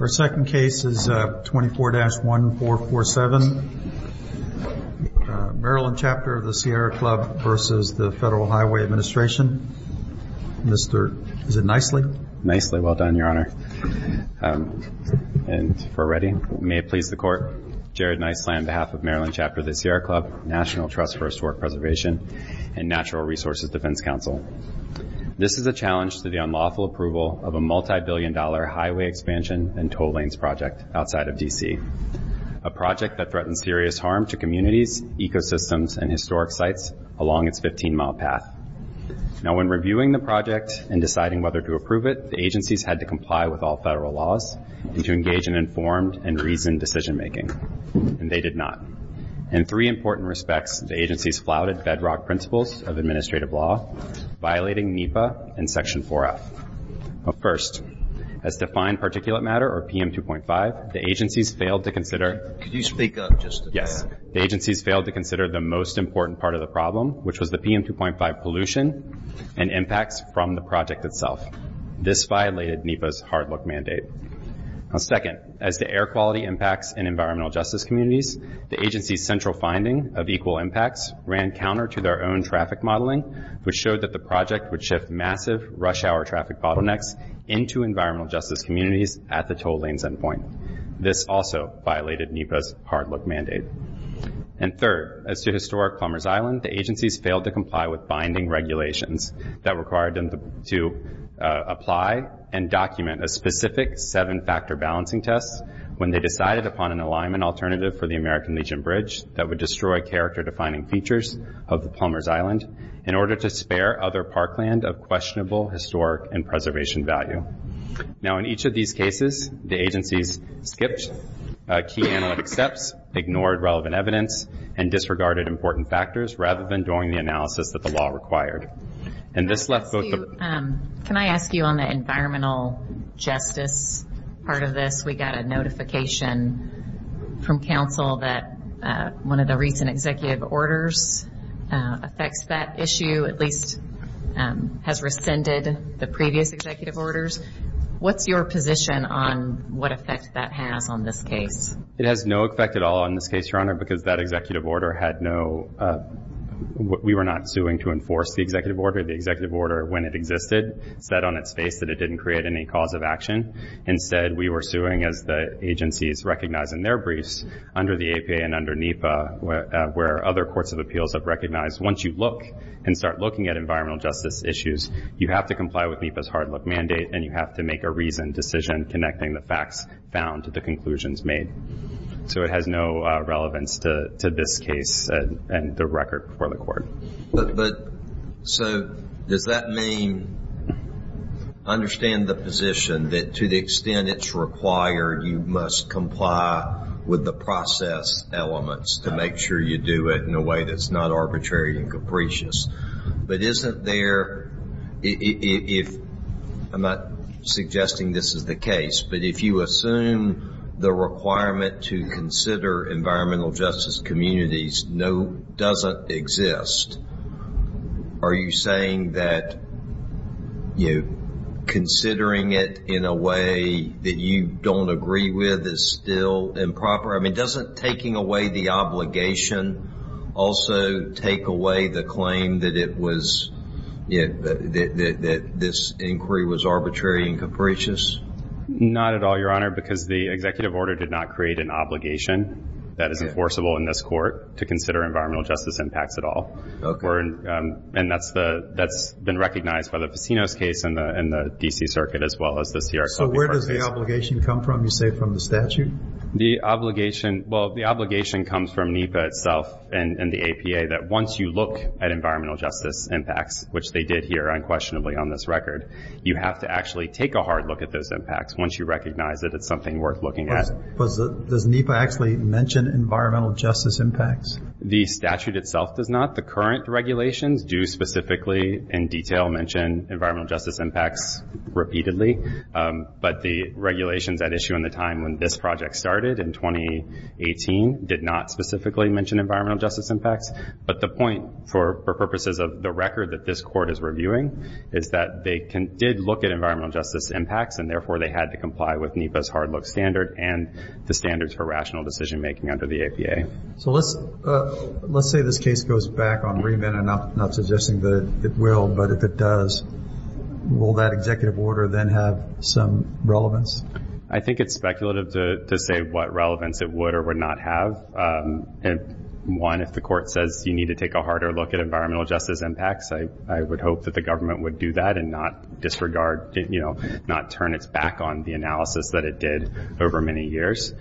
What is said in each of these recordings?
Our second case is 24-1447, Maryland Chapter of the Sierra Club v. Federal Highway Administration. Is it Nicely? Nicely. Well done, Your Honor. And for Ready, may it please the Court. Jared Nicely on behalf of Maryland Chapter of the Sierra Club, National Trust for Historic Preservation, and Natural Resources Defense Council, this is a challenge to the unlawful approval of a multi-billion dollar highway expansion and tow lanes project outside of D.C., a project that threatens serious harm to communities, ecosystems, and historic sites along its 15-mile path. Now, when reviewing the project and deciding whether to approve it, the agencies had to comply with all federal laws and to engage in informed and reasoned decision-making, and they did not. In three important respects, the agencies flouted bedrock principles of administrative law, violating NEPA and Section 4F. First, as defined particulate matter, or PM2.5, the agencies failed to consider the most important part of the problem, which was the PM2.5 pollution and impacts from the project itself. This violated NEPA's hard-luck mandate. Second, as to air quality impacts in environmental justice communities, the agencies' central finding of equal impacts ran counter to their own traffic modeling, which showed that the project would shift massive rush-hour traffic bottlenecks into environmental justice communities at the tow lanes endpoint. This also violated NEPA's hard-luck mandate. And third, as to historic Plumbers Island, the agencies failed to comply with binding regulations that required specific seven-factor balancing tests when they decided upon an alignment alternative for the American Legion Bridge that would destroy character-defining features of the Plumbers Island in order to spare other parkland of questionable historic and preservation value. Now, in each of these cases, the agencies skipped key analytic steps, ignored relevant evidence, and disregarded important factors rather than doing the analysis that the law required. And this left both the... Can I ask you on the environmental justice part of this? We got a notification from counsel that one of the recent executive orders affects that issue, at least has rescinded the previous executive orders. What's your position on what effect that has on this case? It has no effect at all on this case, Your Honor, because that executive order had no... We were not suing to enforce the executive order. The executive order, when it existed, said on its face that it didn't create any cause of action. Instead, we were suing, as the agencies recognize in their briefs, under the APA and under NEPA, where other courts of appeals have recognized once you look and start looking at environmental justice issues, you have to comply with NEPA's hard-luck mandate, and you have to make a reasoned decision connecting the facts found to the facts. So it has no relevance to this case and the record for the court. So does that mean... I understand the position that to the extent it's required, you must comply with the process elements to make sure you do it in a way that's not arbitrary and capricious. But isn't there... I'm not suggesting this is the case, but if you assume the requirement to consider environmental justice communities doesn't exist, are you saying that considering it in a way that you don't agree with is still improper? I mean, doesn't taking away the obligation also take away the claim that it was... that this inquiry was arbitrary and capricious? Not at all, Your Honor, because the executive order did not create an obligation that is enforceable in this court to consider environmental justice impacts at all. And that's been recognized by the Ficinos case and the D.C. Circuit as well as the CRC. So where does the obligation come from, you say, from the statute? Well, the obligation comes from NEPA itself and the APA, that once you look at environmental justice impacts, which they did here unquestionably on this record, you have to actually take a hard look at those impacts once you recognize that it's something worth looking at. Does NEPA actually mention environmental justice impacts? The statute itself does not. The current regulations do specifically, in detail, mention environmental justice impacts repeatedly. But the regulations at issue in the time when this project started in 2018 did not specifically mention environmental justice impacts. But the point, for purposes of the record that this court is reviewing, is that they did look at environmental justice impacts and therefore they had to comply with NEPA's hard look standard and the standards for rational decision making under the APA. So let's say this case goes back on remand. I'm not suggesting that it will, but if it does, will that executive order then have some relevance? I think it's speculative to say what relevance it would or would not have. One, if the court says you need to take a harder look at environmental justice impacts, I would hope that the government would do that and not turn its back on the analysis that it did over many years.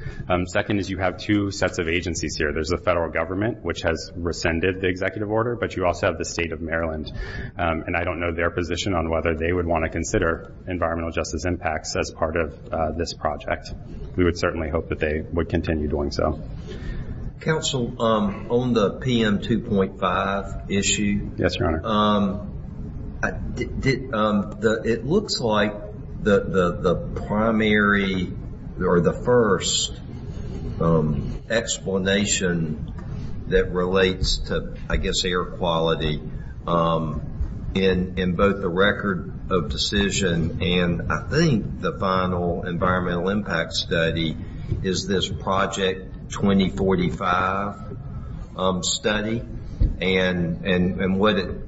Second is you have two sets of agencies here. There's the federal government, which has rescinded the executive order, but you also have the state of Maryland. I don't know their position on whether they would want to consider environmental justice impacts as part of this Council, on the PM 2.5 issue, it looks like the primary or the first explanation that relates to, I guess, air quality in both the record of decision and, I think, the final environmental impact study is this Project 2045. And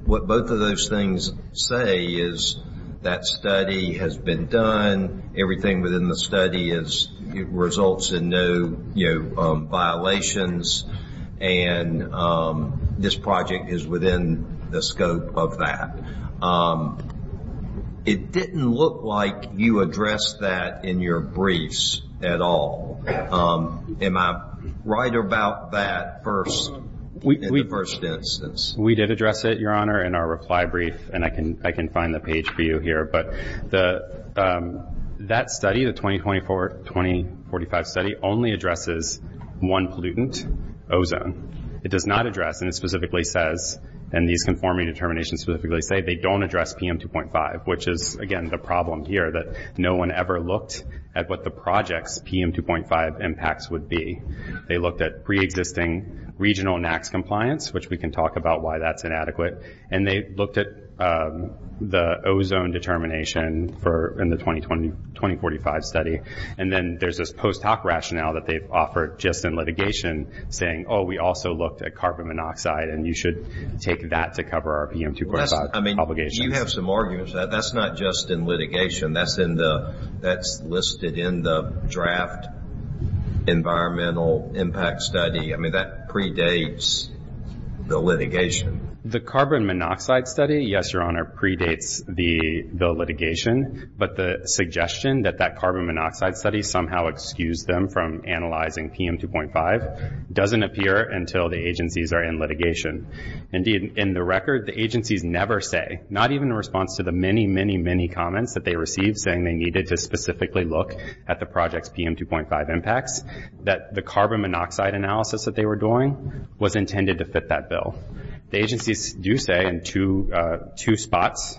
what both of those things say is that study has been done, everything within the study results in no violations, and this project is within the scope of that. It didn't look like you addressed that in your briefs at all. Am I right about that? We did address it, Your Honor, in our reply brief, and I can find the page for you here, but that study, the 2024-2045 study, only addresses one pollutant, ozone. It does not address, and it specifically says, and these conforming determinations specifically say, they don't address PM 2.5, which is, again, the problem here, that no one ever looked at what the project's PM 2.5 impacts would be. They looked at pre-existing regional NAAQS compliance, which we can talk about why that's inadequate, and they looked at the ozone determination in the 2045 study. And then there's this post hoc rationale that they've offered just in litigation, saying, oh, we also looked at carbon monoxide, and you should take that to cover our PM 2.5 obligation. You have some arguments. That's not just in litigation. That's listed in the draft environmental impact study. I mean, that predates the litigation. The carbon monoxide study, yes, Your Honor, predates the litigation, but the suggestion that that carbon monoxide study somehow excused them from analyzing PM 2.5 doesn't appear until the agencies are in litigation. Indeed, in the record, the agencies never say, not even in response to the many, many, many comments that they received saying they needed to specifically look at the project's PM 2.5 impacts, that the carbon monoxide analysis that they were doing was intended to fit that bill. The agencies do say in two spots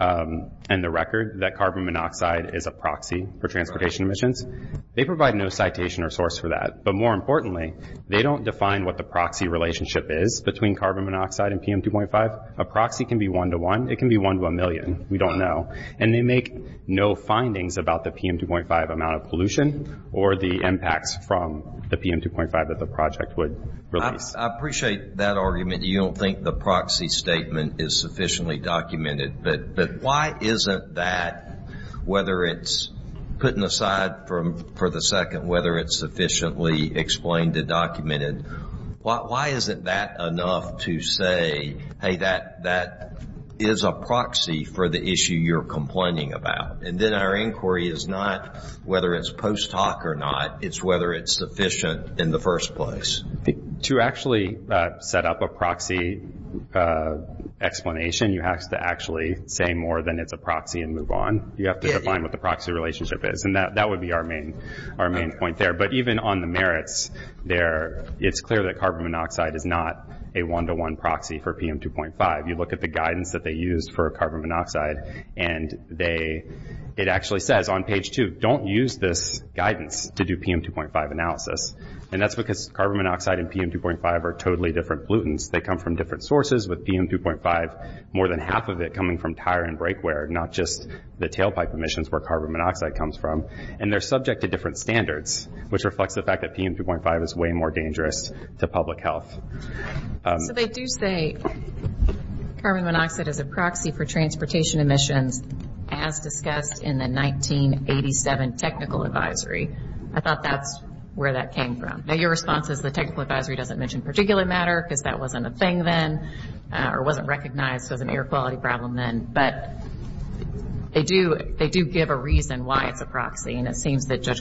in the record that carbon monoxide is a proxy for transportation emissions. They provide no citation or source for that, but more importantly, they don't define what the proxy relationship is between carbon monoxide and PM 2.5. A proxy can be one-to-one. It can be one-to-a-million. We don't know. And they make no findings about the PM 2.5 amount of pollution or the impacts from the PM 2.5 that the project would release. I appreciate that argument. You don't think the proxy statement is sufficiently documented, but why isn't that, whether it's, putting aside for the second, whether it's sufficiently explained and documented, why isn't that enough to say, hey, that is a proxy for the issue you're complaining about? And then our inquiry is not whether it's post hoc or not, it's whether it's sufficient in the first place. To actually set up a proxy explanation, you have to actually say more than it's a proxy and move on. You have to define what the proxy relationship is, and that would be our main point there. But even on the merits, it's clear that carbon monoxide is not a one-to-one solution for carbon monoxide. It actually says on page two, don't use this guidance to do PM 2.5 analysis. And that's because carbon monoxide and PM 2.5 are totally different pollutants. They come from different sources, with PM 2.5, more than half of it coming from tire and brake wear, not just the tailpipe emissions where carbon monoxide comes from. And they're subject to different standards, which reflects the fact that PM 2.5 is way more dangerous to public health. So they do say carbon monoxide is a proxy for transportation emissions, as discussed in the 1987 technical advisory. I thought that's where that came from. Now your response is the technical advisory doesn't mention particulate matter because that wasn't a thing then, or wasn't recognized as an air quality problem then. But they do give a reason why it's a proxy, and it seems that Judge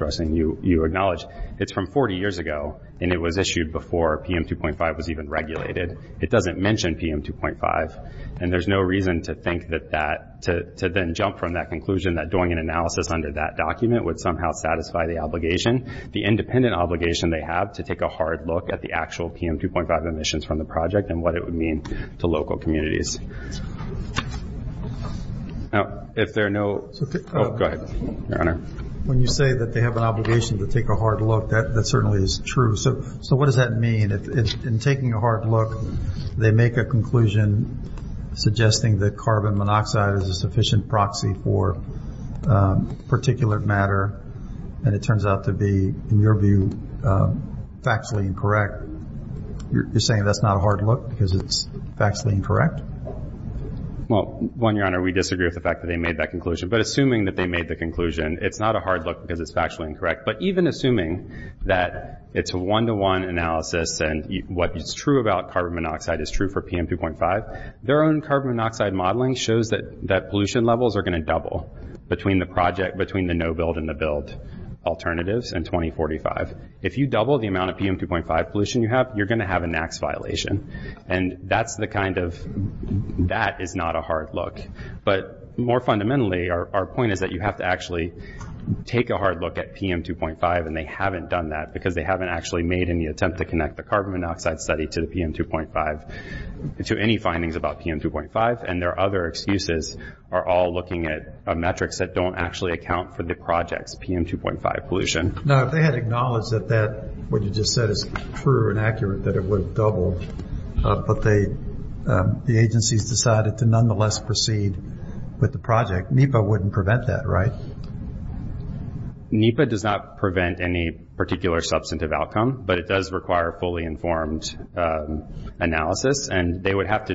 Rushing, you acknowledge, it's from 40 years ago, and it was issued before PM 2.5 was even regulated. It doesn't mention PM 2.5, and there's no reason to think that that, to then jump from that conclusion that doing an analysis under that document would somehow satisfy the obligation, the independent obligation they have to take a hard look at the actual PM 2.5 emissions from the project and what it would mean to local communities. When you say that they have an obligation to take a hard look, that certainly is true. So what does that mean? In taking a hard look, they make a conclusion suggesting that carbon monoxide is a sufficient proxy for particulate matter, and it turns out to be, in your view, factually incorrect. You're saying that's not a hard look because it's factually incorrect? Well, one, Your Honor, we disagree with the fact that they made that conclusion. But assuming that they made the conclusion, it's not a hard look because it's factually incorrect. But even assuming that it's a one-to-one analysis and what is true about carbon monoxide is true for PM 2.5, their own carbon monoxide modeling shows that pollution levels are going to double between the project, between the no-build and the build alternatives in 2045. If you double the amount of PM 2.5 pollution you have, you're going to have a NAAQS violation. And that is not a hard look. But more fundamentally, our point is that you have to actually take a hard look at PM 2.5, and they haven't done that because they haven't actually made any attempt to connect the carbon monoxide study to the PM 2.5 to any findings about PM 2.5. And their other excuses are all looking at metrics that don't actually account for the project's PM 2.5 pollution. Now, if they had acknowledged that what you just said is true and accurate, that it would have doubled, but the agencies decided to nonetheless proceed with the project, NEPA wouldn't prevent that, right? NEPA does not prevent any particular substantive outcome, but it does require fully informed analysis, and they would have to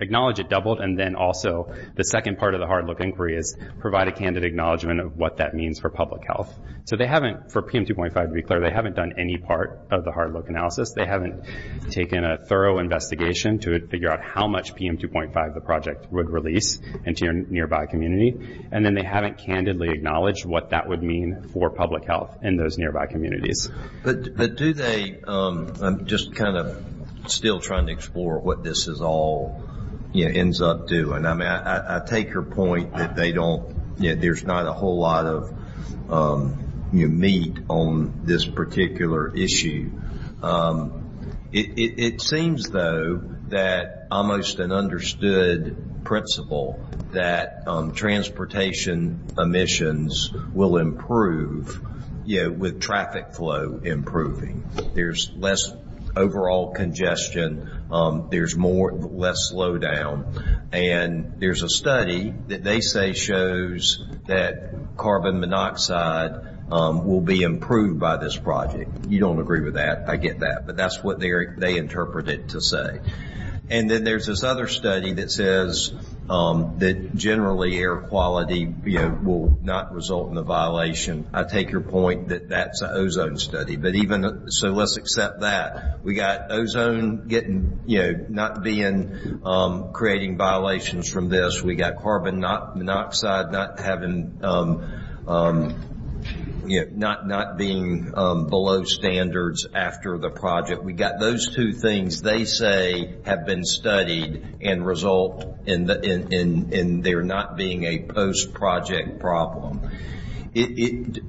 acknowledge it doubled, and then also the second part of the hard look inquiry is provide a candid acknowledgment of what that means for public health. So they haven't, for PM 2.5 to be clear, they haven't done any part of the hard look analysis. They haven't taken a thorough investigation to figure out how much PM 2.5 the project would release into your nearby community, and then they haven't candidly acknowledged what that would mean for public health in those nearby communities. But do they, I'm just kind of still trying to explore what this is all, you know, ends up doing. I mean, I take your point that they don't, you know, there's not a whole lot of meat on this particular issue. It seems, though, that almost an understood principle that transportation emissions will improve, you know, with traffic flow improving. There's less overall congestion. There's more, less slowdown, and there's a study that they say shows that carbon monoxide will be improved by this project. You don't agree with that. I get that, but that's what they interpret it to say. And then there's this other study that says that generally air quality, you know, will not result in a violation. I take your point that that's an ozone study. But even, so let's accept that. We got ozone getting, you know, not being, creating violations from this. We got carbon monoxide not having, you know, not being below standards after the project. We got those two things they say have been studied and result in there not being a post-project problem.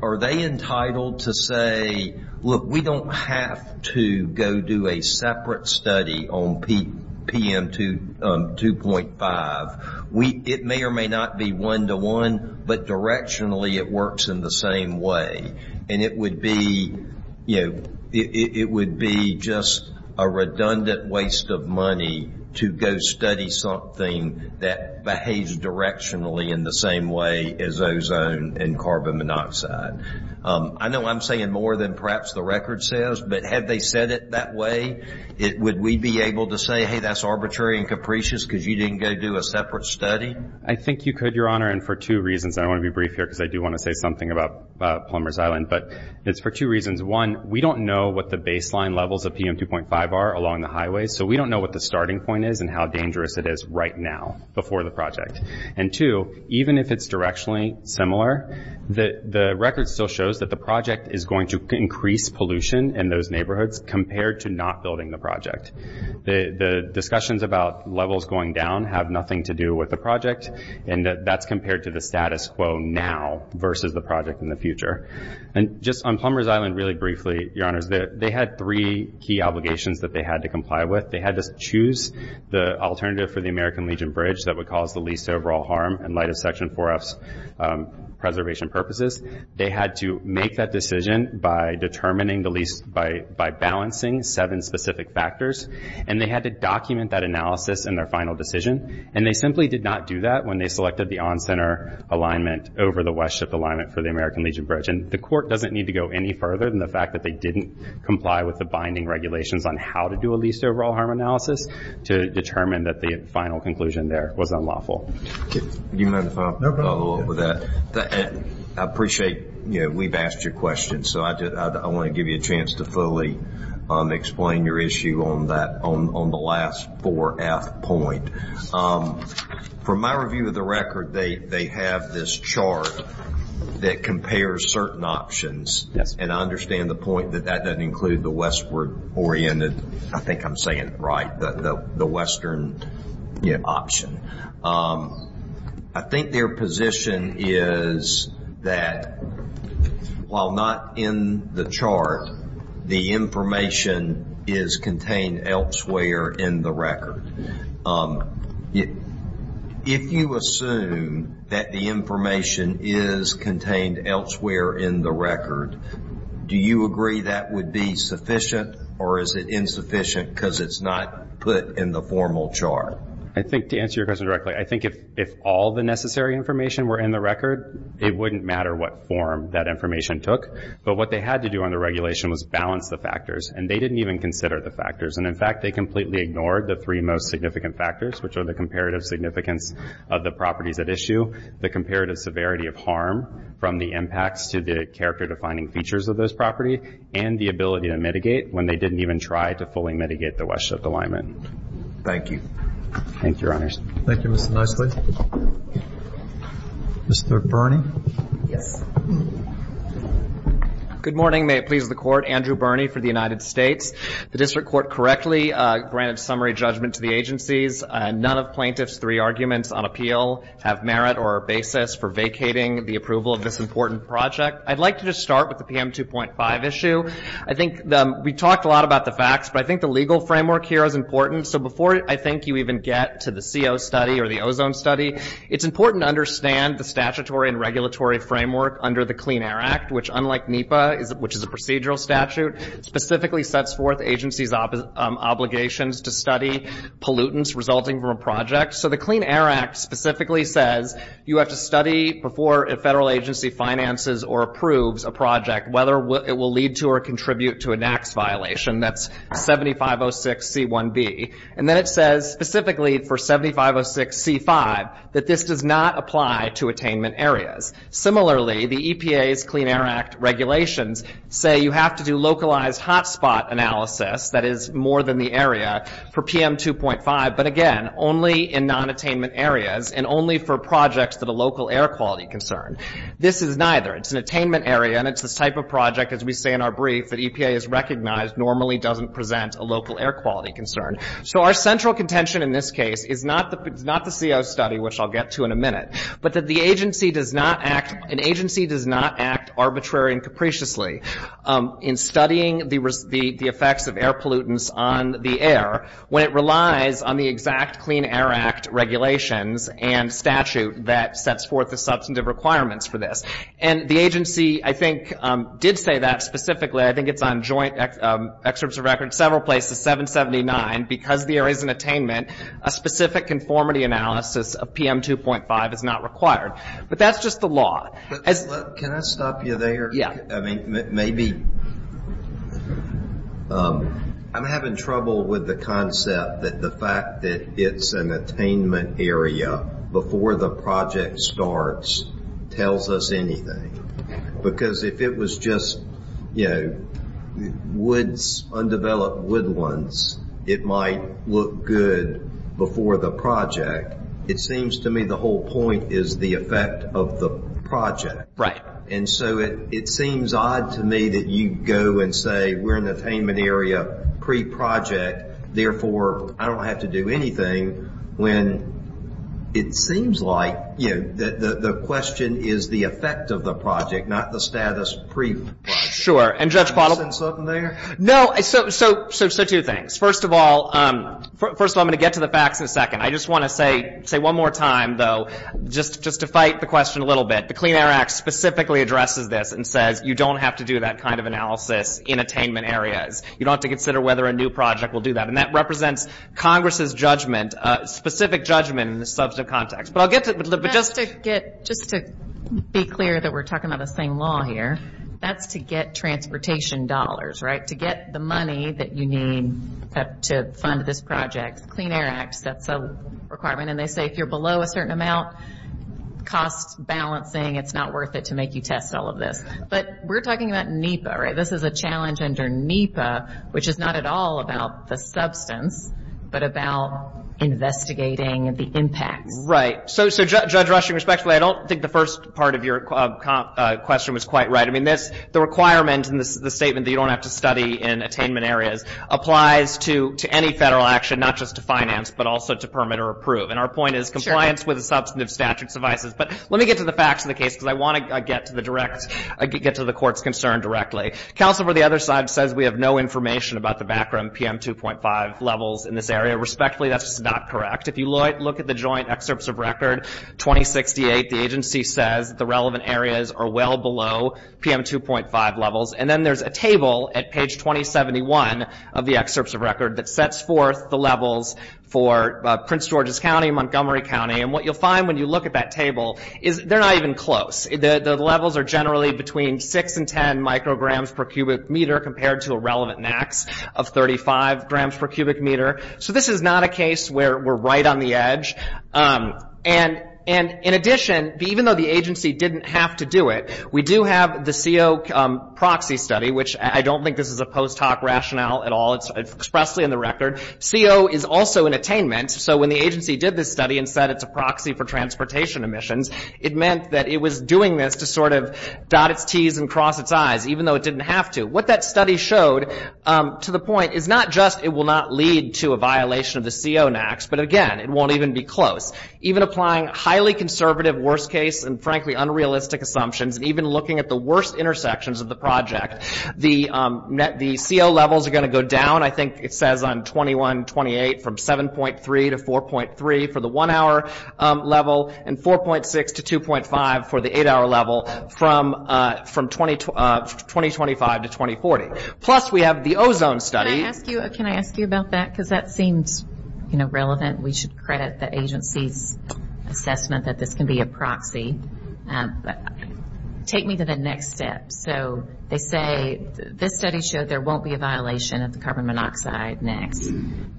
Are they entitled to say, look, we don't have to go do a separate study on PM 2.5. It may or may not be one-to-one, but directionally it works in the same way. And it would be, you know, it would be just a redundant waste of money to go study something that behaves directionally in the same way as ozone and carbon monoxide. I know I'm saying more than perhaps the record says, but had they said it that way, would we be able to say, hey, that's arbitrary and capricious because you didn't go do a separate study? I think you could, Your Honor, and for two reasons. I want to be brief here because I do want to say something about Plumbers Island, but it's for two reasons. One, we don't know what the baseline levels of PM 2.5 are along the highway. So we don't know what the starting point is and how dangerous it is right now before the project. And two, even if it's directionally similar, the record still shows that the project is going to increase pollution in those neighborhoods compared to not building the project. The discussions about levels going down have nothing to do with the project, and that's compared to the status quo now versus the project in the future. And just on Plumbers Island really briefly, Your Honor, they had three key obligations that they had to comply with. They had to choose the alternative for the American Legion Bridge that would cause the least overall harm in light of Section 4F's preservation purposes. They had to make that decision by balancing seven specific factors, and they had to document that analysis in their final decision. And they simply did not do that when they selected the on-center alignment over the westship alignment for the American Legion Bridge. And the court doesn't need to go any further than the fact that they didn't comply with the binding regulations on how to do a least overall harm analysis to determine that the final conclusion there was unlawful. Do you mind if I follow up with that? I appreciate we've asked your question, so I want to give you a chance to fully explain your issue on the last 4F point. From my review of the record, they have this chart that compares certain options, and I understand the point that that doesn't include the westward-oriented, I think I'm saying it right, the western option. I think their position is that while not in the chart, the information on the westward-oriented portion of the chart is contained elsewhere in the record. If you assume that the information is contained elsewhere in the record, do you agree that would be sufficient, or is it insufficient because it's not put in the formal chart? I think to answer your question directly, I think if all the necessary information were in the record, it wouldn't matter what form that information took. But what they had to do on the regulation was balance the factors, and they didn't even consider the factors. And in fact, they completely ignored the three most significant factors, which are the comparative significance of the properties at issue, the comparative severity of harm from the impacts to the character-defining features of those property, and the ability to mitigate when they didn't even try to fully mitigate the westship alignment. Thank you. Thank you, Mr. Knisely. Good morning. May it please the Court. Andrew Birney for the United States. The District Court correctly granted summary judgment to the agencies. None of plaintiffs' three arguments on appeal have merit or basis for vacating the approval of this important project. I'd like to just start with the PM 2.5 issue. I think we talked a lot about the facts, but I think the legal framework here is important, and I don't think you even get to the CO study or the ozone study. It's important to understand the statutory and regulatory framework under the Clean Air Act, which, unlike NEPA, which is a procedural statute, specifically sets forth agencies' obligations to study pollutants resulting from a project. So the Clean Air Act specifically says you have to study before a federal agency finances or approves a project whether it will lead to or contribute to a tax violation. That's 7506C1B. And then it says, specifically, the 7506C5, that this does not apply to attainment areas. Similarly, the EPA's Clean Air Act regulations say you have to do localized hotspot analysis, that is, more than the area, for PM 2.5, but again, only in non-attainment areas and only for projects that are local air quality concern. This is neither. It's an attainment area, and it's this type of project, as we say in our brief, that EPA has recognized normally doesn't present a local air quality concern. So our central contention in this case is not the CO study, which I'll get to in a minute, but that the agency does not act arbitrary and capriciously in studying the effects of air pollutants on the air when it relies on the exact Clean Air Act regulations and statute that sets forth the substantive requirements for this. And the agency, I think, did say that specifically, I think it's on joint excerpts of records, several places, 779, because the area is an attainment, a specific conformity analysis of PM 2.5 is not required. But that's just the law. Can I stop you there? Yeah. I'm having trouble with the concept that the fact that it's an attainment area before the project starts tells us anything. Because if it was just, you know, woods, undeveloped woodlands, it might look good before the project. It seems to me the whole point is the effect of the project. And so it seems odd to me that you go and say we're in the attainment area pre-project, therefore I don't have to do anything, when it is an attainment area. So I'm going to get to the facts in a second. I just want to say one more time, though, just to fight the question a little bit. The Clean Air Act specifically addresses this and says you don't have to do that kind of analysis in attainment areas. You don't have to consider whether a new project will do that. And that represents Congress's judgment, specific judgment in the context. Just to be clear that we're talking about the same law here, that's to get transportation dollars, right? To get the money that you need to fund this project. The Clean Air Act sets a requirement and they say if you're below a certain amount, cost balancing, it's not worth it to make you test all of this. But we're talking about NEPA, right? This is a challenge under NEPA, which is not at all about the substance, but about investigating the impacts. Right. So, Judge Rushing, respectfully, I don't think the first part of your question was quite right. I mean, the requirement in the statement that you don't have to study in attainment areas applies to any federal action, not just to finance, but also to permit or approve. And our point is compliance with the substantive statute suffices. But let me get to the facts of the case, because I want to get to the court's concern directly. Counsel for the other side says we have no information about the background PM 2.5 levels in this area. Respectfully, that's not correct. If you look at the joint excerpts of record 2068, the agency says the relevant areas are well below PM 2.5 levels. And then there's a table at page 2071 of the excerpts of record that sets forth the levels for Prince George's County, Montgomery County. And what you'll find when you look at that table is they're not even close. The levels are generally between 6 and 10 micrograms per cubic meter compared to a relevant max of 35 grams per cubic meter. So this is not a case where we're right on the edge. And in addition, even though the agency didn't have to do it, we do have the CO proxy study, which I don't think this is a post hoc rationale at all. It's expressly in the record. CO is also an attainment, so when the agency did this study and said it's a proxy for transportation emissions, it meant that it was doing this to sort of dot its T's and cross its I's, even though it didn't have to. What that study showed, to the point, is not just it will not lead to a violation of the CO NAX, but again, it won't even be close. Even applying highly conservative worst case and frankly unrealistic assumptions, and even looking at the worst intersections of the project, the CO levels are going to go down, I think it says on 21-28, from 7.3 to 4.3 for the one hour level, and 4.6 to 2.5 for the eight hour level from 2025 to 2040. Plus we have the ozone study. Can I ask you about that? Because that seems relevant, we should credit the agency's assessment that this can be a proxy. Take me to the next step, so they say this study showed there won't be a violation of the CO NAX,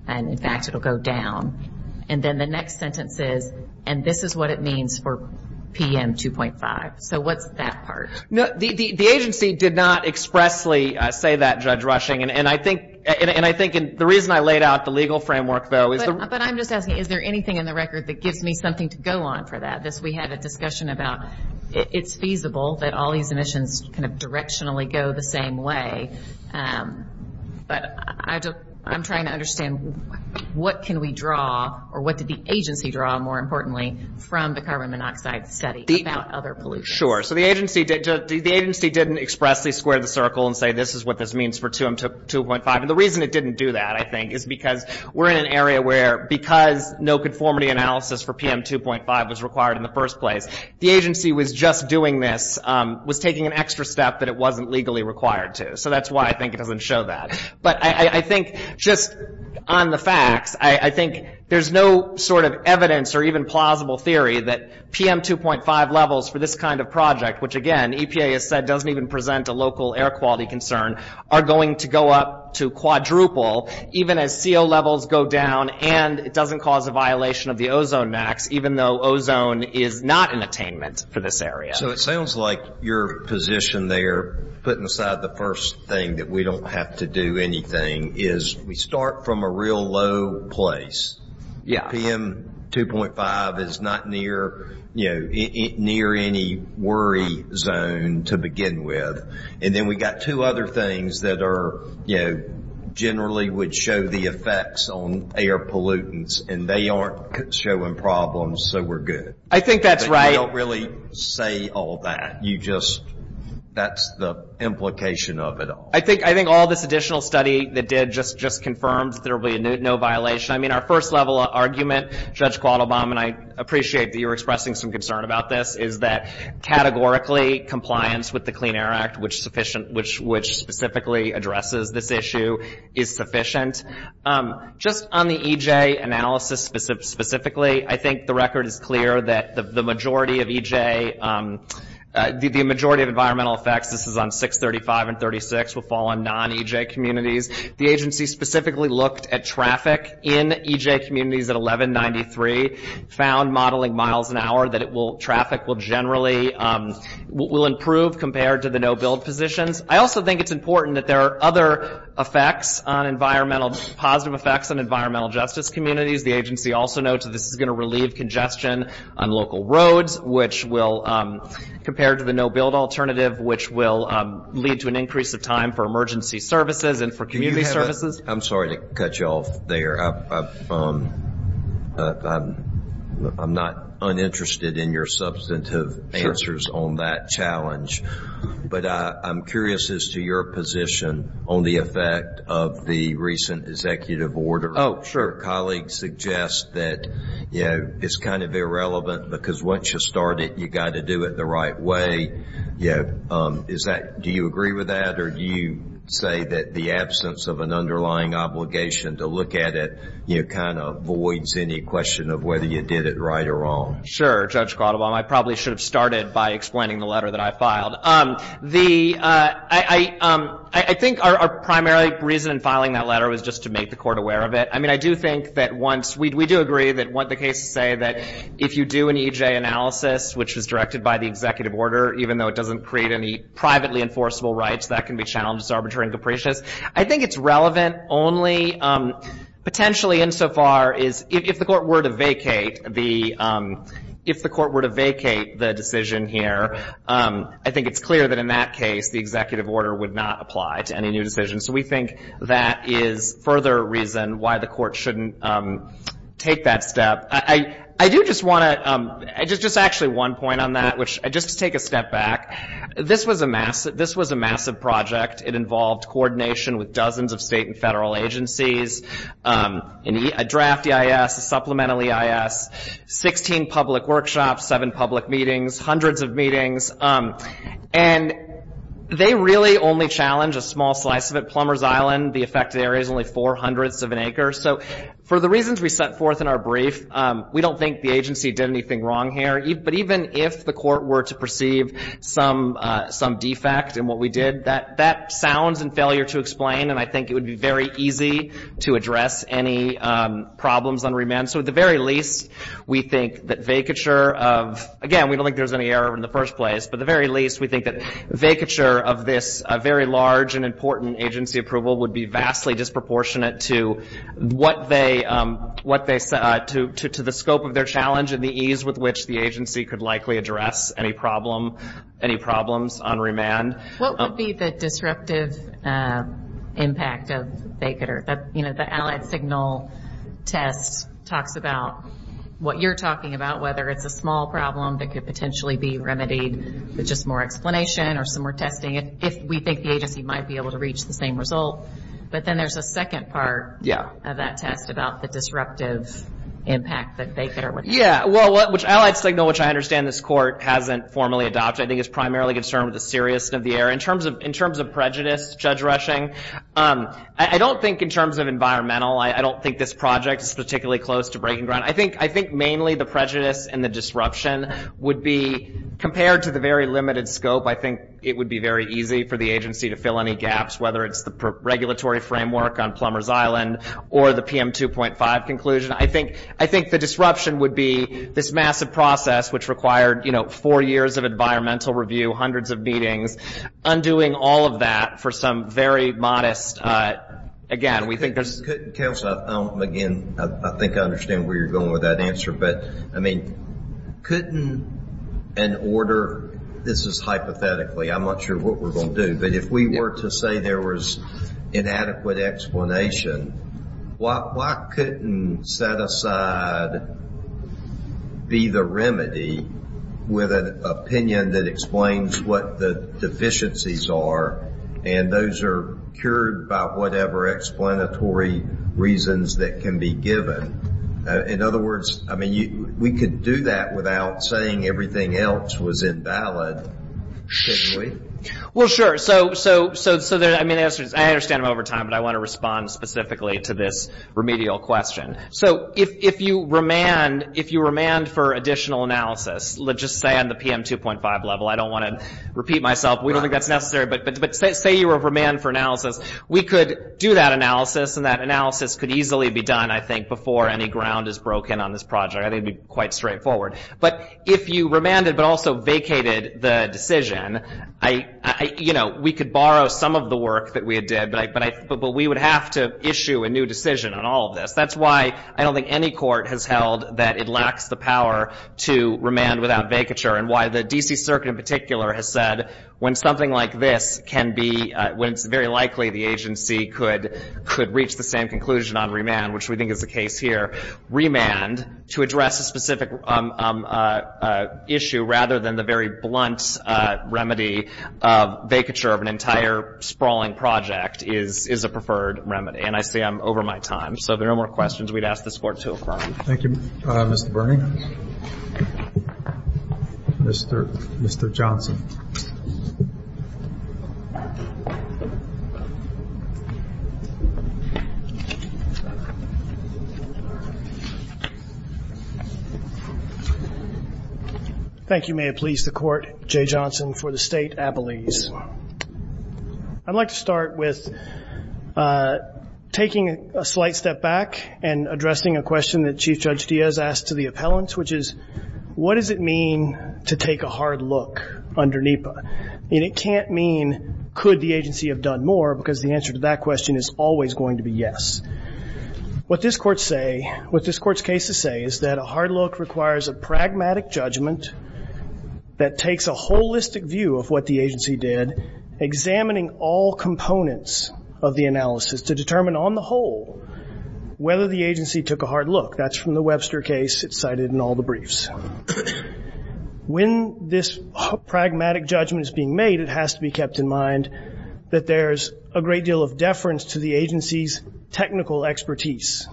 and in fact it will go down. And then the next sentence is, and this is what it means for PM 2.5. So what's that part? The agency did not expressly say that, Judge Rushing, and I think the reason I laid out the legal framework, though. But I'm just asking, is there anything in the record that gives me something to go on for that? We had a discussion about it's feasible that all these emissions directionally go the same way, but I'm trying to understand what can we draw, or what did the agency draw, more importantly, from the carbon monoxide study about other pollution? Sure, so the agency didn't expressly square the circle and say this is what this means for 2.5. And the reason it didn't do that, I think, is because we're in an area where because no conformity analysis for PM 2.5 was required in the first place, the agency was just doing this, was taking an extra step that it wasn't legally required to. So that's why I think it doesn't show that. But I think just on the facts, I think there's no sort of evidence or even plausible theory that PM 2.5 levels for this kind of pollution project, which, again, EPA has said doesn't even present a local air quality concern, are going to go up to quadruple, even as CO levels go down and it doesn't cause a violation of the ozone max, even though ozone is not an attainment for this area. So it sounds like your position there, putting aside the first thing that we don't have to do anything, is we start from a real low place. PM 2.5 is not near any worry zone to begin with. And then we've got two other things that generally would show the effects on air pollutants, and they aren't showing problems, so we're good. I think that's right. You don't really say all that. That's the implication of it all. I think all this additional study that did just confirms there will be no violation. I mean, our first level argument, Judge Quattlebaum, and I appreciate that you're expressing some concern about this, is that categorically compliance with the Clean Air Act, which specifically addresses this issue, is sufficient. Just on the EJ analysis specifically, I think the record is clear that the majority of EJ, the majority of environmental effects, this is on 635 and 36, will fall on non-EJ communities. The agency specifically looked at traffic in EJ communities at 1193, found modeling miles an hour that traffic will generally improve compared to the no-build positions. I also think it's important that there are other positive effects on environmental justice communities. The agency also notes that this is going to relieve congestion on local roads, which will, compared to the no-build alternative, lead to an increase of time for emergency services and for community services. I'm sorry to cut you off there. I'm not uninterested in your substantive answers on that challenge, but I'm curious as to your position on the effect of the recent executive order. Colleagues suggest that it's kind of irrelevant because once you start it, you've got to do it the right way. Do you agree with that, or do you say that the absence of an underlying obligation to look at it kind of voids any question of whether you did it right or wrong? Sure, Judge Quattlebaum. I probably should have started by explaining the letter that I filed. I think our primary reason in filing that letter was just to make the Court aware of it. I do think that once we do agree that what the cases say, that if you do an EJ analysis, which is directed by the executive order, even though it doesn't create any privately enforceable rights, that can be challenged as arbitrary and capricious. I think it's relevant only potentially insofar as if the Court were to vacate the decision here, I think it's clear that in that case, the executive order would not apply to any new decision. I think the Court shouldn't take that step. Just actually one point on that, just to take a step back, this was a massive project. It involved coordination with dozens of state and federal agencies, a draft EIS, a supplemental EIS, 16 public workshops, seven public meetings, hundreds of meetings, and they really only challenge a small slice of it. On Summers Island, the affected area is only four hundredths of an acre, so for the reasons we set forth in our brief, we don't think the agency did anything wrong here. But even if the Court were to perceive some defect in what we did, that sounds in failure to explain, and I think it would be very easy to address any problems on remand. So at the very least, we think that vacature of, again, we don't think there's any error in the first place, but at the very least, we think that vacature of this very large and important agency approval would be vastly disproportionate to the scope of their challenge and the ease with which the agency could likely address any problems on remand. What would be the disruptive impact of vacature? The Allied Signal test talks about what you're talking about, whether it's a small problem that could potentially be remedied, with just more explanation or some more testing, if we think the agency might be able to reach the same result. But then there's a second part of that test about the disruptive impact that vacature would have. Yeah, well, which Allied Signal, which I understand this Court hasn't formally adopted, I think is primarily concerned with the seriousness of the area. In terms of prejudice, Judge Rushing, I don't think in terms of environmental, I don't think this project is particularly close to breaking ground. I think mainly the prejudice and the disruption would be, compared to the very limited scope, I think it would be very easy for the agency to fill any gaps, whether it's the regulatory framework on Plumbers Island or the PM 2.5 conclusion. I think the disruption would be this massive process, which required four years of environmental review, hundreds of meetings, undoing all of that for some very modest, again, we think there's... Counsel, again, I think I understand where you're going with that answer. But, I mean, couldn't an order, this is hypothetically, I'm not sure what we're going to do, but if we were to say there was inadequate explanation, why couldn't set aside be the remedy with an opinion that explains what the deficiencies are, and those are cured by whatever explanatory reasons that can be given? In other words, I mean, we could do that without saying everything else was invalid, couldn't we? Well, sure. So, I mean, I understand over time, but I want to respond specifically to this remedial question. So if you remand for additional analysis, let's just say on the PM 2.5 level, I don't want to repeat myself, we don't think that's necessary, but say you remand for analysis, we could do that analysis, and that analysis could easily be done, I think, before any ground is broken on this project, I think it would be quite straightforward. But if you remanded, but also vacated the decision, we could borrow some of the work that we did, but we would have to issue a new decision on all of this. That's why I don't think any court has held that it lacks the power to remand without vacature, and why the D.C. Circuit in particular has said when something like this can be, when it's very likely the agency could reach the same conclusion on remand, which we think is the case here, remand to address a specific issue, rather than the very blunt remedy of vacature of an entire sprawling project, is a preferred remedy. And I see I'm over my time. So if there are no more questions, we'd ask this Court to affirm. Thank you, Mr. Bernie. Mr. Johnson. Thank you. Thank you, may it please the Court, Jay Johnson for the State Appellees. I'd like to start with taking a slight step back and addressing a question that Chief Judge Diaz asked to the appellants, which is what does it mean to take a hard look under NEPA? And it can't mean could the agency have done more, because the answer to that question is always going to be yes. What this Court's case to say is that a hard look requires a pragmatic judgment that takes a holistic view of what the agency did, examining all components of the analysis to determine on the whole whether the agency took a hard look. That's from the Webster case. It's cited in all the briefs. When this pragmatic judgment is being made, it has to be kept in mind that there's a great deal of deference to the agency's technical expertise.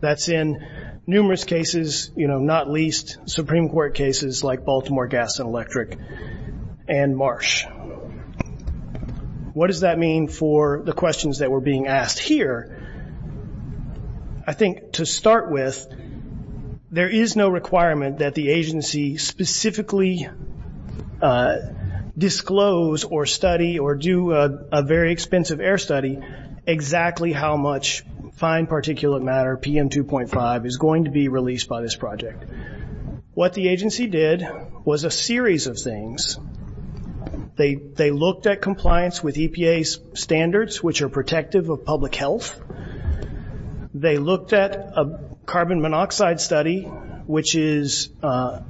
That's in numerous cases, you know, not least Supreme Court cases like Baltimore Gas and Electric and Marsh. What does that mean for the questions that were being asked here? I think to start with, there is no requirement that the agency specifically disclose or study or do a very expensive air study exactly how much fine particulate matter, PM2.5, is going to be released by this project. What the agency did was a series of things. They looked at compliance with EPA's standards, which are protective of public health. They looked at a carbon monoxide study, which the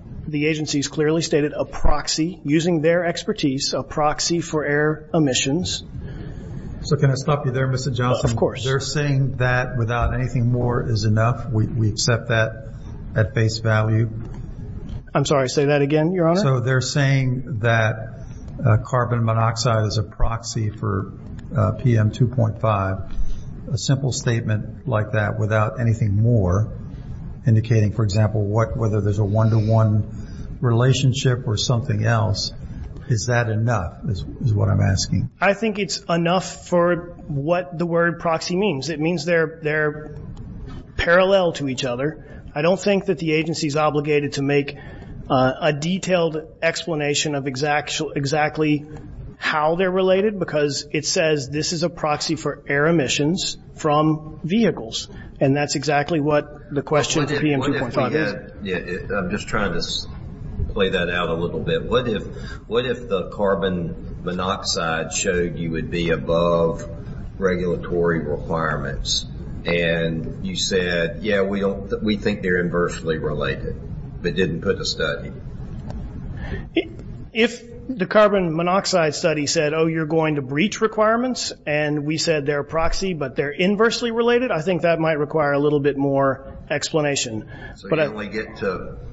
agency has clearly stated a proxy using their expertise, a proxy for air emissions. So can I stop you there, Mr. Johnson? Of course. They're saying that without anything more is enough. We accept that at face value. I'm sorry, say that again, Your Honor. So they're saying that carbon monoxide is a proxy for PM2.5. A simple statement like that without anything more indicating, for example, whether there's a one-to-one relationship or something else, is that enough is what I'm asking? I think it's enough for what the word proxy means. It means they're parallel to each other. I don't think that the agency is obligated to make a detailed explanation of exactly how they're related because it says this is a proxy for air emissions from vehicles, and that's exactly what the question to PM2.5 is. I'm just trying to play that out a little bit. What if the carbon monoxide showed you would be above regulatory requirements and you said, yeah, we think they're inversely related, but didn't put a study? If the carbon monoxide study said, oh, you're going to breach requirements, and we said they're a proxy but they're inversely related, I think that might require a little bit more explanation. So you only get to –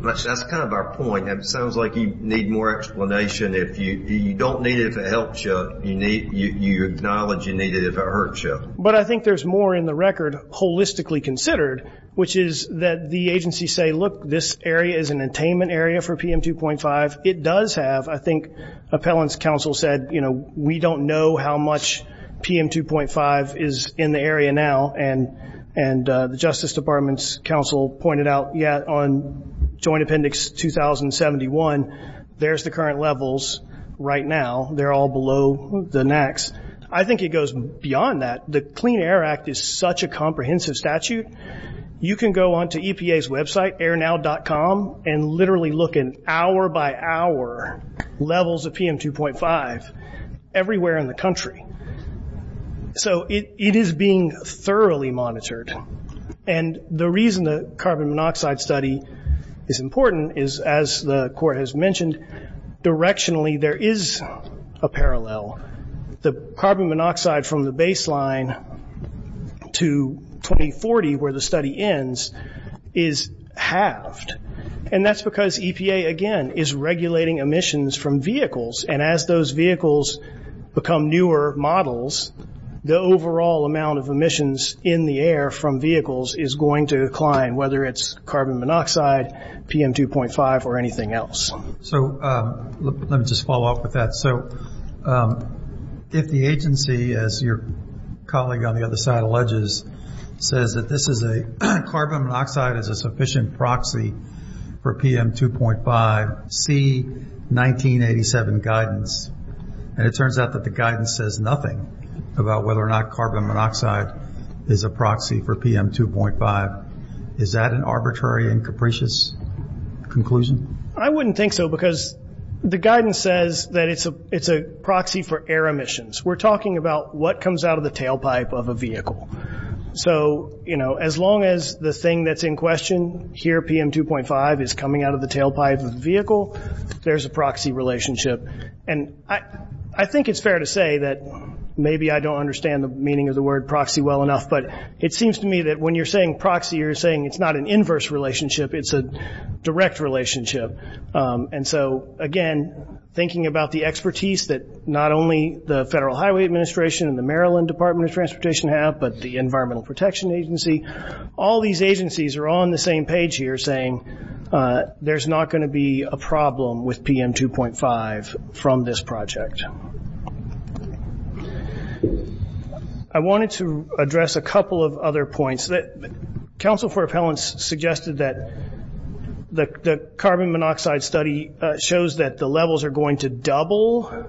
that's kind of our point. It sounds like you need more explanation. You don't need it if it helps you. You acknowledge you need it if it hurts you. But I think there's more in the record holistically considered, which is that the agencies say, look, this area is an attainment area for PM2.5. It does have, I think, appellant's counsel said, you know, we don't know how much PM2.5 is in the area now, and the Justice Department's counsel pointed out, yeah, on Joint Appendix 2071, there's the current levels right now. They're all below the next. I think it goes beyond that. The Clean Air Act is such a comprehensive statute, you can go onto EPA's website, airnow.com, and literally look at hour by hour levels of PM2.5 everywhere in the country. So it is being thoroughly monitored. And the reason the carbon monoxide study is important is, as the Court has mentioned, directionally there is a parallel. The carbon monoxide from the baseline to 2040, where the study ends, is halved. And that's because EPA, again, is regulating emissions from vehicles, and as those vehicles become newer models, the overall amount of emissions in the air from vehicles is going to decline, whether it's carbon monoxide, PM2.5, or anything else. So let me just follow up with that. So if the agency, as your colleague on the other side alleges, says that this is a carbon monoxide is a sufficient proxy for PM2.5, see 1987 guidance. And it turns out that the guidance says nothing about whether or not carbon monoxide is a proxy for PM2.5. Is that an arbitrary and capricious conclusion? I wouldn't think so, because the guidance says that it's a proxy for air emissions. We're talking about what comes out of the tailpipe of a vehicle. So, you know, as long as the thing that's in question here, PM2.5, is coming out of the tailpipe of the vehicle, there's a proxy relationship. And I think it's fair to say that maybe I don't understand the meaning of the word proxy well enough, but it seems to me that when you're saying proxy, you're saying it's not an inverse relationship, it's a direct relationship. And so, again, thinking about the expertise that not only the Federal Highway Administration and the Maryland Department of Transportation have, but the Environmental Protection Agency, all these agencies are on the same page here saying there's not going to be a problem with PM2.5 from this project. I wanted to address a couple of other points. Council for Appellants suggested that the carbon monoxide study shows that the levels are going to double,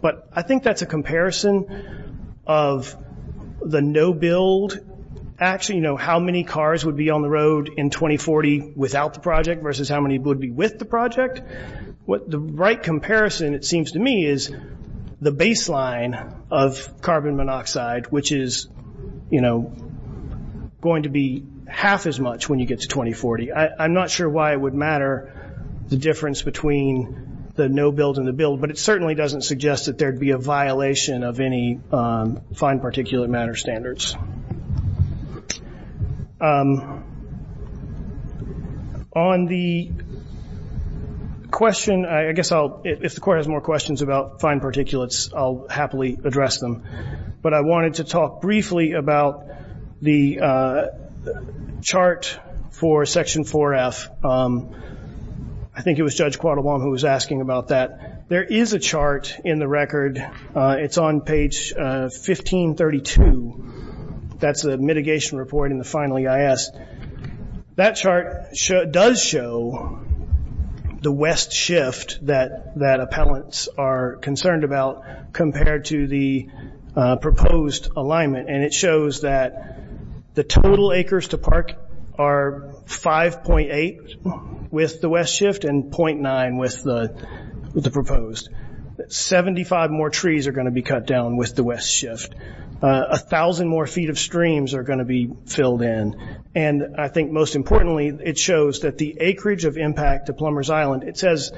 but I think that's a comparison of the no-build. Actually, you know, how many cars would be on the road in 2040 without the project versus how many would be with the project. The right comparison, it seems to me, is the baseline of carbon monoxide, which is, you know, going to be half as much when you get to 2040. I'm not sure why it would matter the difference between the no-build and the build, but it certainly doesn't suggest that there would be a violation of any fine particulate matter standards. On the question, I guess I'll, if the Court has more questions about fine particulates, I'll happily address them. But I wanted to talk briefly about the chart for Section 4F. I think it was Judge Quattlebaum who was asking about that. There is a chart in the record. It's on page 1532. That's the mitigation report in the final EIS. That chart does show the west shift that appellants are concerned about compared to the proposed alignment, and it shows that the total acres to park are 5.8 with the west shift and .9 with the proposed. Seventy-five more trees are going to be cut down with the west shift. A thousand more feet of streams are going to be filled in. And I think most importantly, it shows that the acreage of impact to Plumbers Island, it says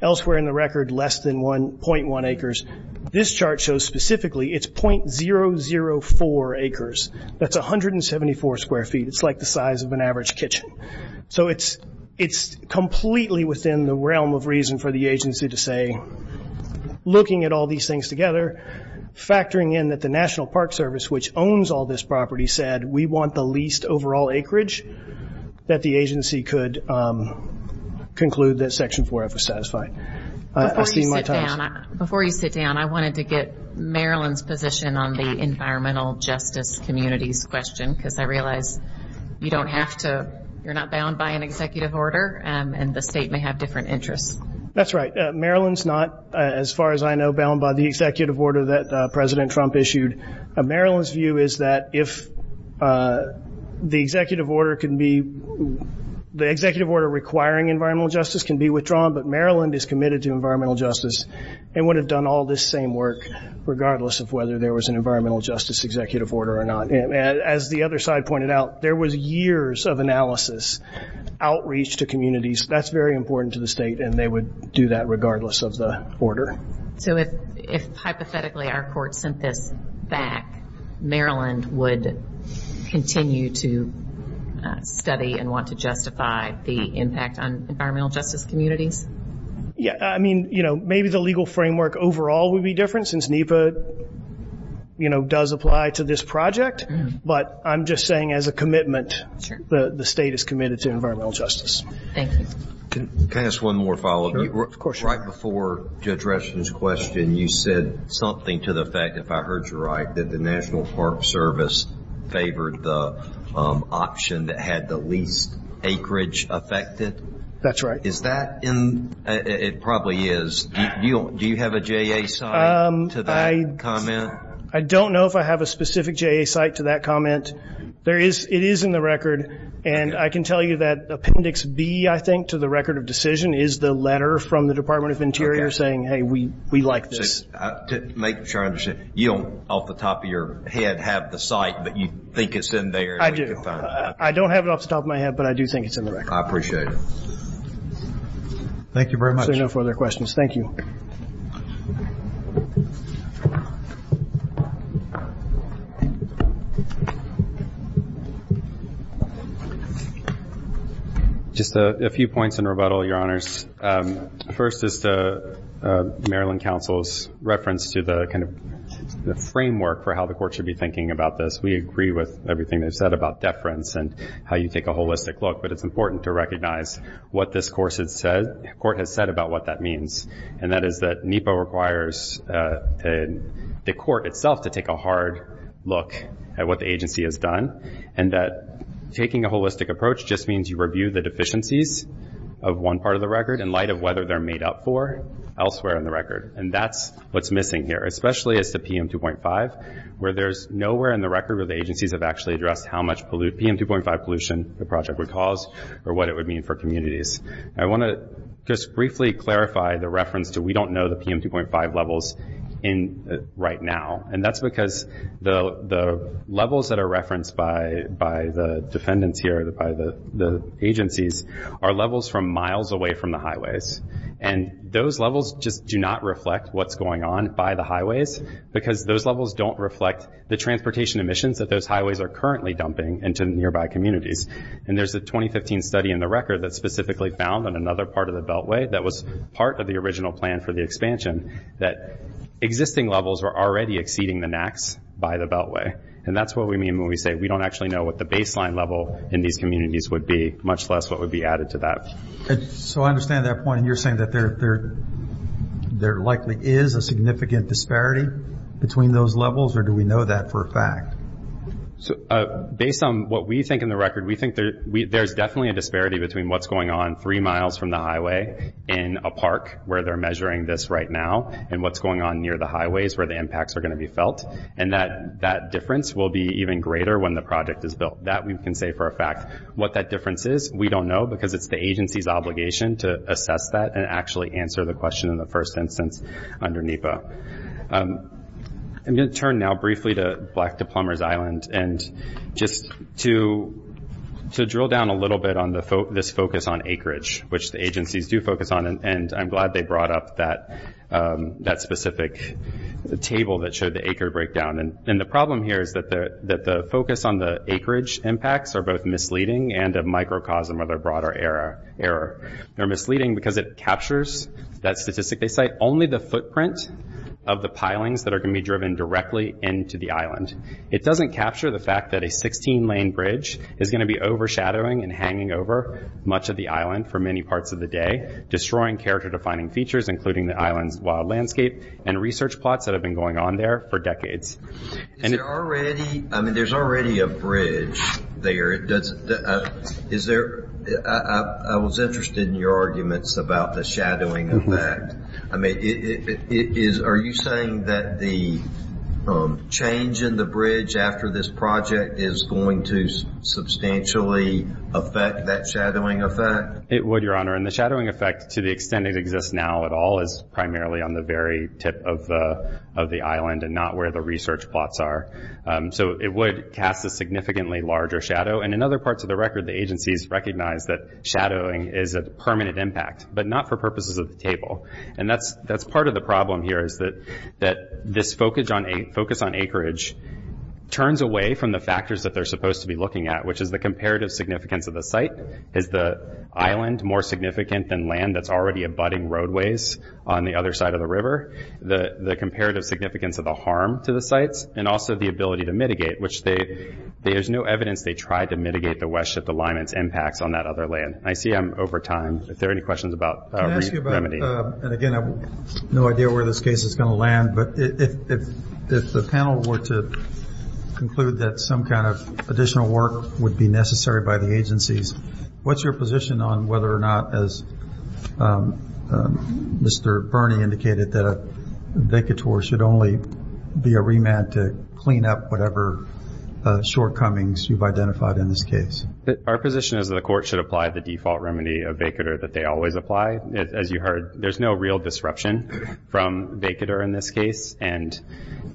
elsewhere in the record less than .1 acres. This chart shows specifically it's .004 acres. That's 174 square feet. It's like the size of an average kitchen. So it's completely within the realm of reason for the agency to say, looking at all these things together, factoring in that the National Park Service, which owns all this property, said, we want the least overall acreage, that the agency could conclude that Section 4F was satisfied. Before you sit down, I wanted to get Marilyn's position on the environmental justice communities question, because I realize you're not bound by an executive order, and the state may have different interests. That's right. Marilyn's not, as far as I know, bound by the executive order that President Trump issued. Marilyn's view is that if the executive order requiring environmental justice can be withdrawn, but Marilyn is committed to environmental justice and would have done all this same work, regardless of whether there was an environmental justice executive order or not. As the other side pointed out, there was years of analysis, outreach to communities. That's very important to the state, and they would do that regardless of the order. So if hypothetically our court sent this back, Marilyn would continue to study and want to justify the impact on environmental justice communities? Yeah. I mean, maybe the legal framework overall would be different, since NEPA does apply to this project, but I'm just saying as a commitment, the state is committed to environmental justice. Thank you. Can I ask one more follow-up? Of course. Right before Judge Reston's question, you said something to the effect, if I heard you right, that the National Park Service favored the option that had the least acreage affected? That's right. Is that in the record? It probably is. Do you have a JA site to that comment? I don't know if I have a specific JA site to that comment. It is in the record, and I can tell you that Appendix B, I think, to the record of decision, is the letter from the Department of Interior saying, hey, we like this. To make sure I understand, you don't off the top of your head have the site, but you think it's in there? I do. I don't have it off the top of my head, but I do think it's in the record. I appreciate it. Thank you very much. There are no further questions. Thank you. Just a few points in rebuttal, Your Honors. First is the Maryland Council's reference to the framework for how the court should be thinking about this. We agree with everything they've said about deference and how you take a holistic look, but it's important to recognize what this court has said about what that means, and that is that NEPA requires the court itself to take a hard look at what the agency has done and that taking a holistic approach just means you review the deficiencies of one part of the record in light of whether they're made up for elsewhere in the record, and that's what's missing here, especially as to PM 2.5, where there's nowhere in the record where the agencies have actually addressed how much PM 2.5 pollution the project would cause or what it would mean for communities. I want to just briefly clarify the reference to we don't know the PM 2.5 levels right now, and that's because the levels that are referenced by the defendants here, by the agencies, are levels from miles away from the highways, and those levels just do not reflect what's going on by the highways because those levels don't reflect the transportation emissions that those highways are currently dumping into nearby communities, and there's a 2015 study in the record that's specifically found on another part of the beltway that was part of the original plan for the expansion that existing levels were already exceeding the NACs by the beltway, and that's what we mean when we say we don't actually know what the baseline level in these communities would be, much less what would be added to that. So I understand that point, and you're saying that there likely is a significant disparity between those levels, or do we know that for a fact? Based on what we think in the record, we think there's definitely a disparity between what's going on three miles from the highway in a park where they're measuring this right now, and what's going on near the highways where the impacts are going to be felt, and that difference will be even greater when the project is built. That we can say for a fact. What that difference is, we don't know because it's the agency's obligation to assess that and actually answer the question in the first instance under NEPA. I'm going to turn now briefly to Black to Plumbers Island, and just to drill down a little bit on this focus on acreage, which the agencies do focus on, and I'm glad they brought up that specific table that showed the acreage breakdown. And the problem here is that the focus on the acreage impacts are both misleading and a microcosm of a broader error. They're misleading because it captures that statistic. They cite only the footprint of the pilings that are going to be driven directly into the island. It doesn't capture the fact that a 16-lane bridge is going to be overshadowing and hanging over much of the island for many parts of the day, destroying character-defining features including the island's wild landscape and research plots that have been going on there for decades. There's already a bridge there. I was interested in your arguments about the shadowing effect. Are you saying that the change in the bridge after this project is going to substantially affect that shadowing effect? It would, Your Honor, and the shadowing effect, to the extent it exists now at all, is primarily on the very tip of the island and not where the research plots are. So it would cast a significantly larger shadow. And in other parts of the record, the agencies recognize that shadowing is a permanent impact, but not for purposes of the table. And that's part of the problem here is that this focus on acreage turns away from the factors that they're supposed to be looking at, which is the comparative significance of the site. Is the island more significant than land that's already abutting roadways on the other side of the river? The comparative significance of the harm to the sites, and also the ability to mitigate, which there's no evidence they tried to mitigate the West Shift Alignment's impacts on that other land. I see I'm over time. Are there any questions about remedy? Can I ask you about, and again, I have no idea where this case is going to land, but if the panel were to conclude that some kind of additional work would be necessary by the agencies, what's your position on whether or not, as Mr. Birney indicated, that a vacatur should only be a remand to clean up whatever shortcomings you've identified in this case? Our position is that the court should apply the default remedy of vacatur that they always apply. As you heard, there's no real disruption from vacatur in this case, and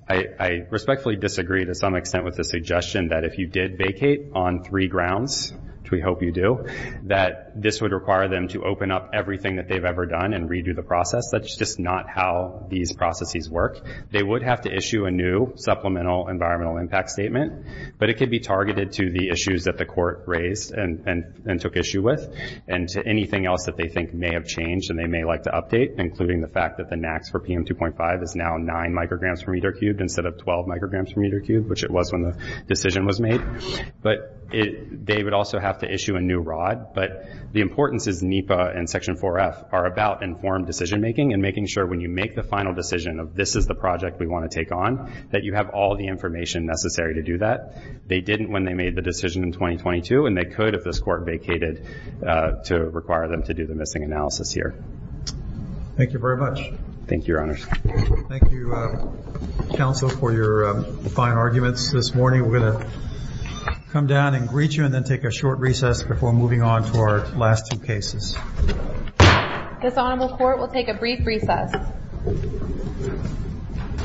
I respectfully disagree to some extent with the suggestion that if you did vacate on three grounds, which we hope you do, that this would require them to open up everything that they've ever done and redo the process. That's just not how these processes work. They would have to issue a new supplemental environmental impact statement, but it could be targeted to the issues that the court raised and took issue with and to anything else that they think may have changed and they may like to update, including the fact that the max for PM2.5 is now 9 micrograms per meter cubed instead of 12 micrograms per meter cubed, which it was when the decision was made. But they would also have to issue a new rod, but the importance is NEPA and Section 4F are about informed decision making and making sure when you make the final decision of this is the project we want to take on, that you have all the information necessary to do that. They didn't when they made the decision in 2022, and they could if this court vacated to require them to do the missing analysis here. Thank you very much. Thank you, Your Honor. Thank you, counsel, for your fine arguments this morning. We're going to come down and greet you and then take a short recess before moving on to our last two cases. This honorable court will take a brief recess.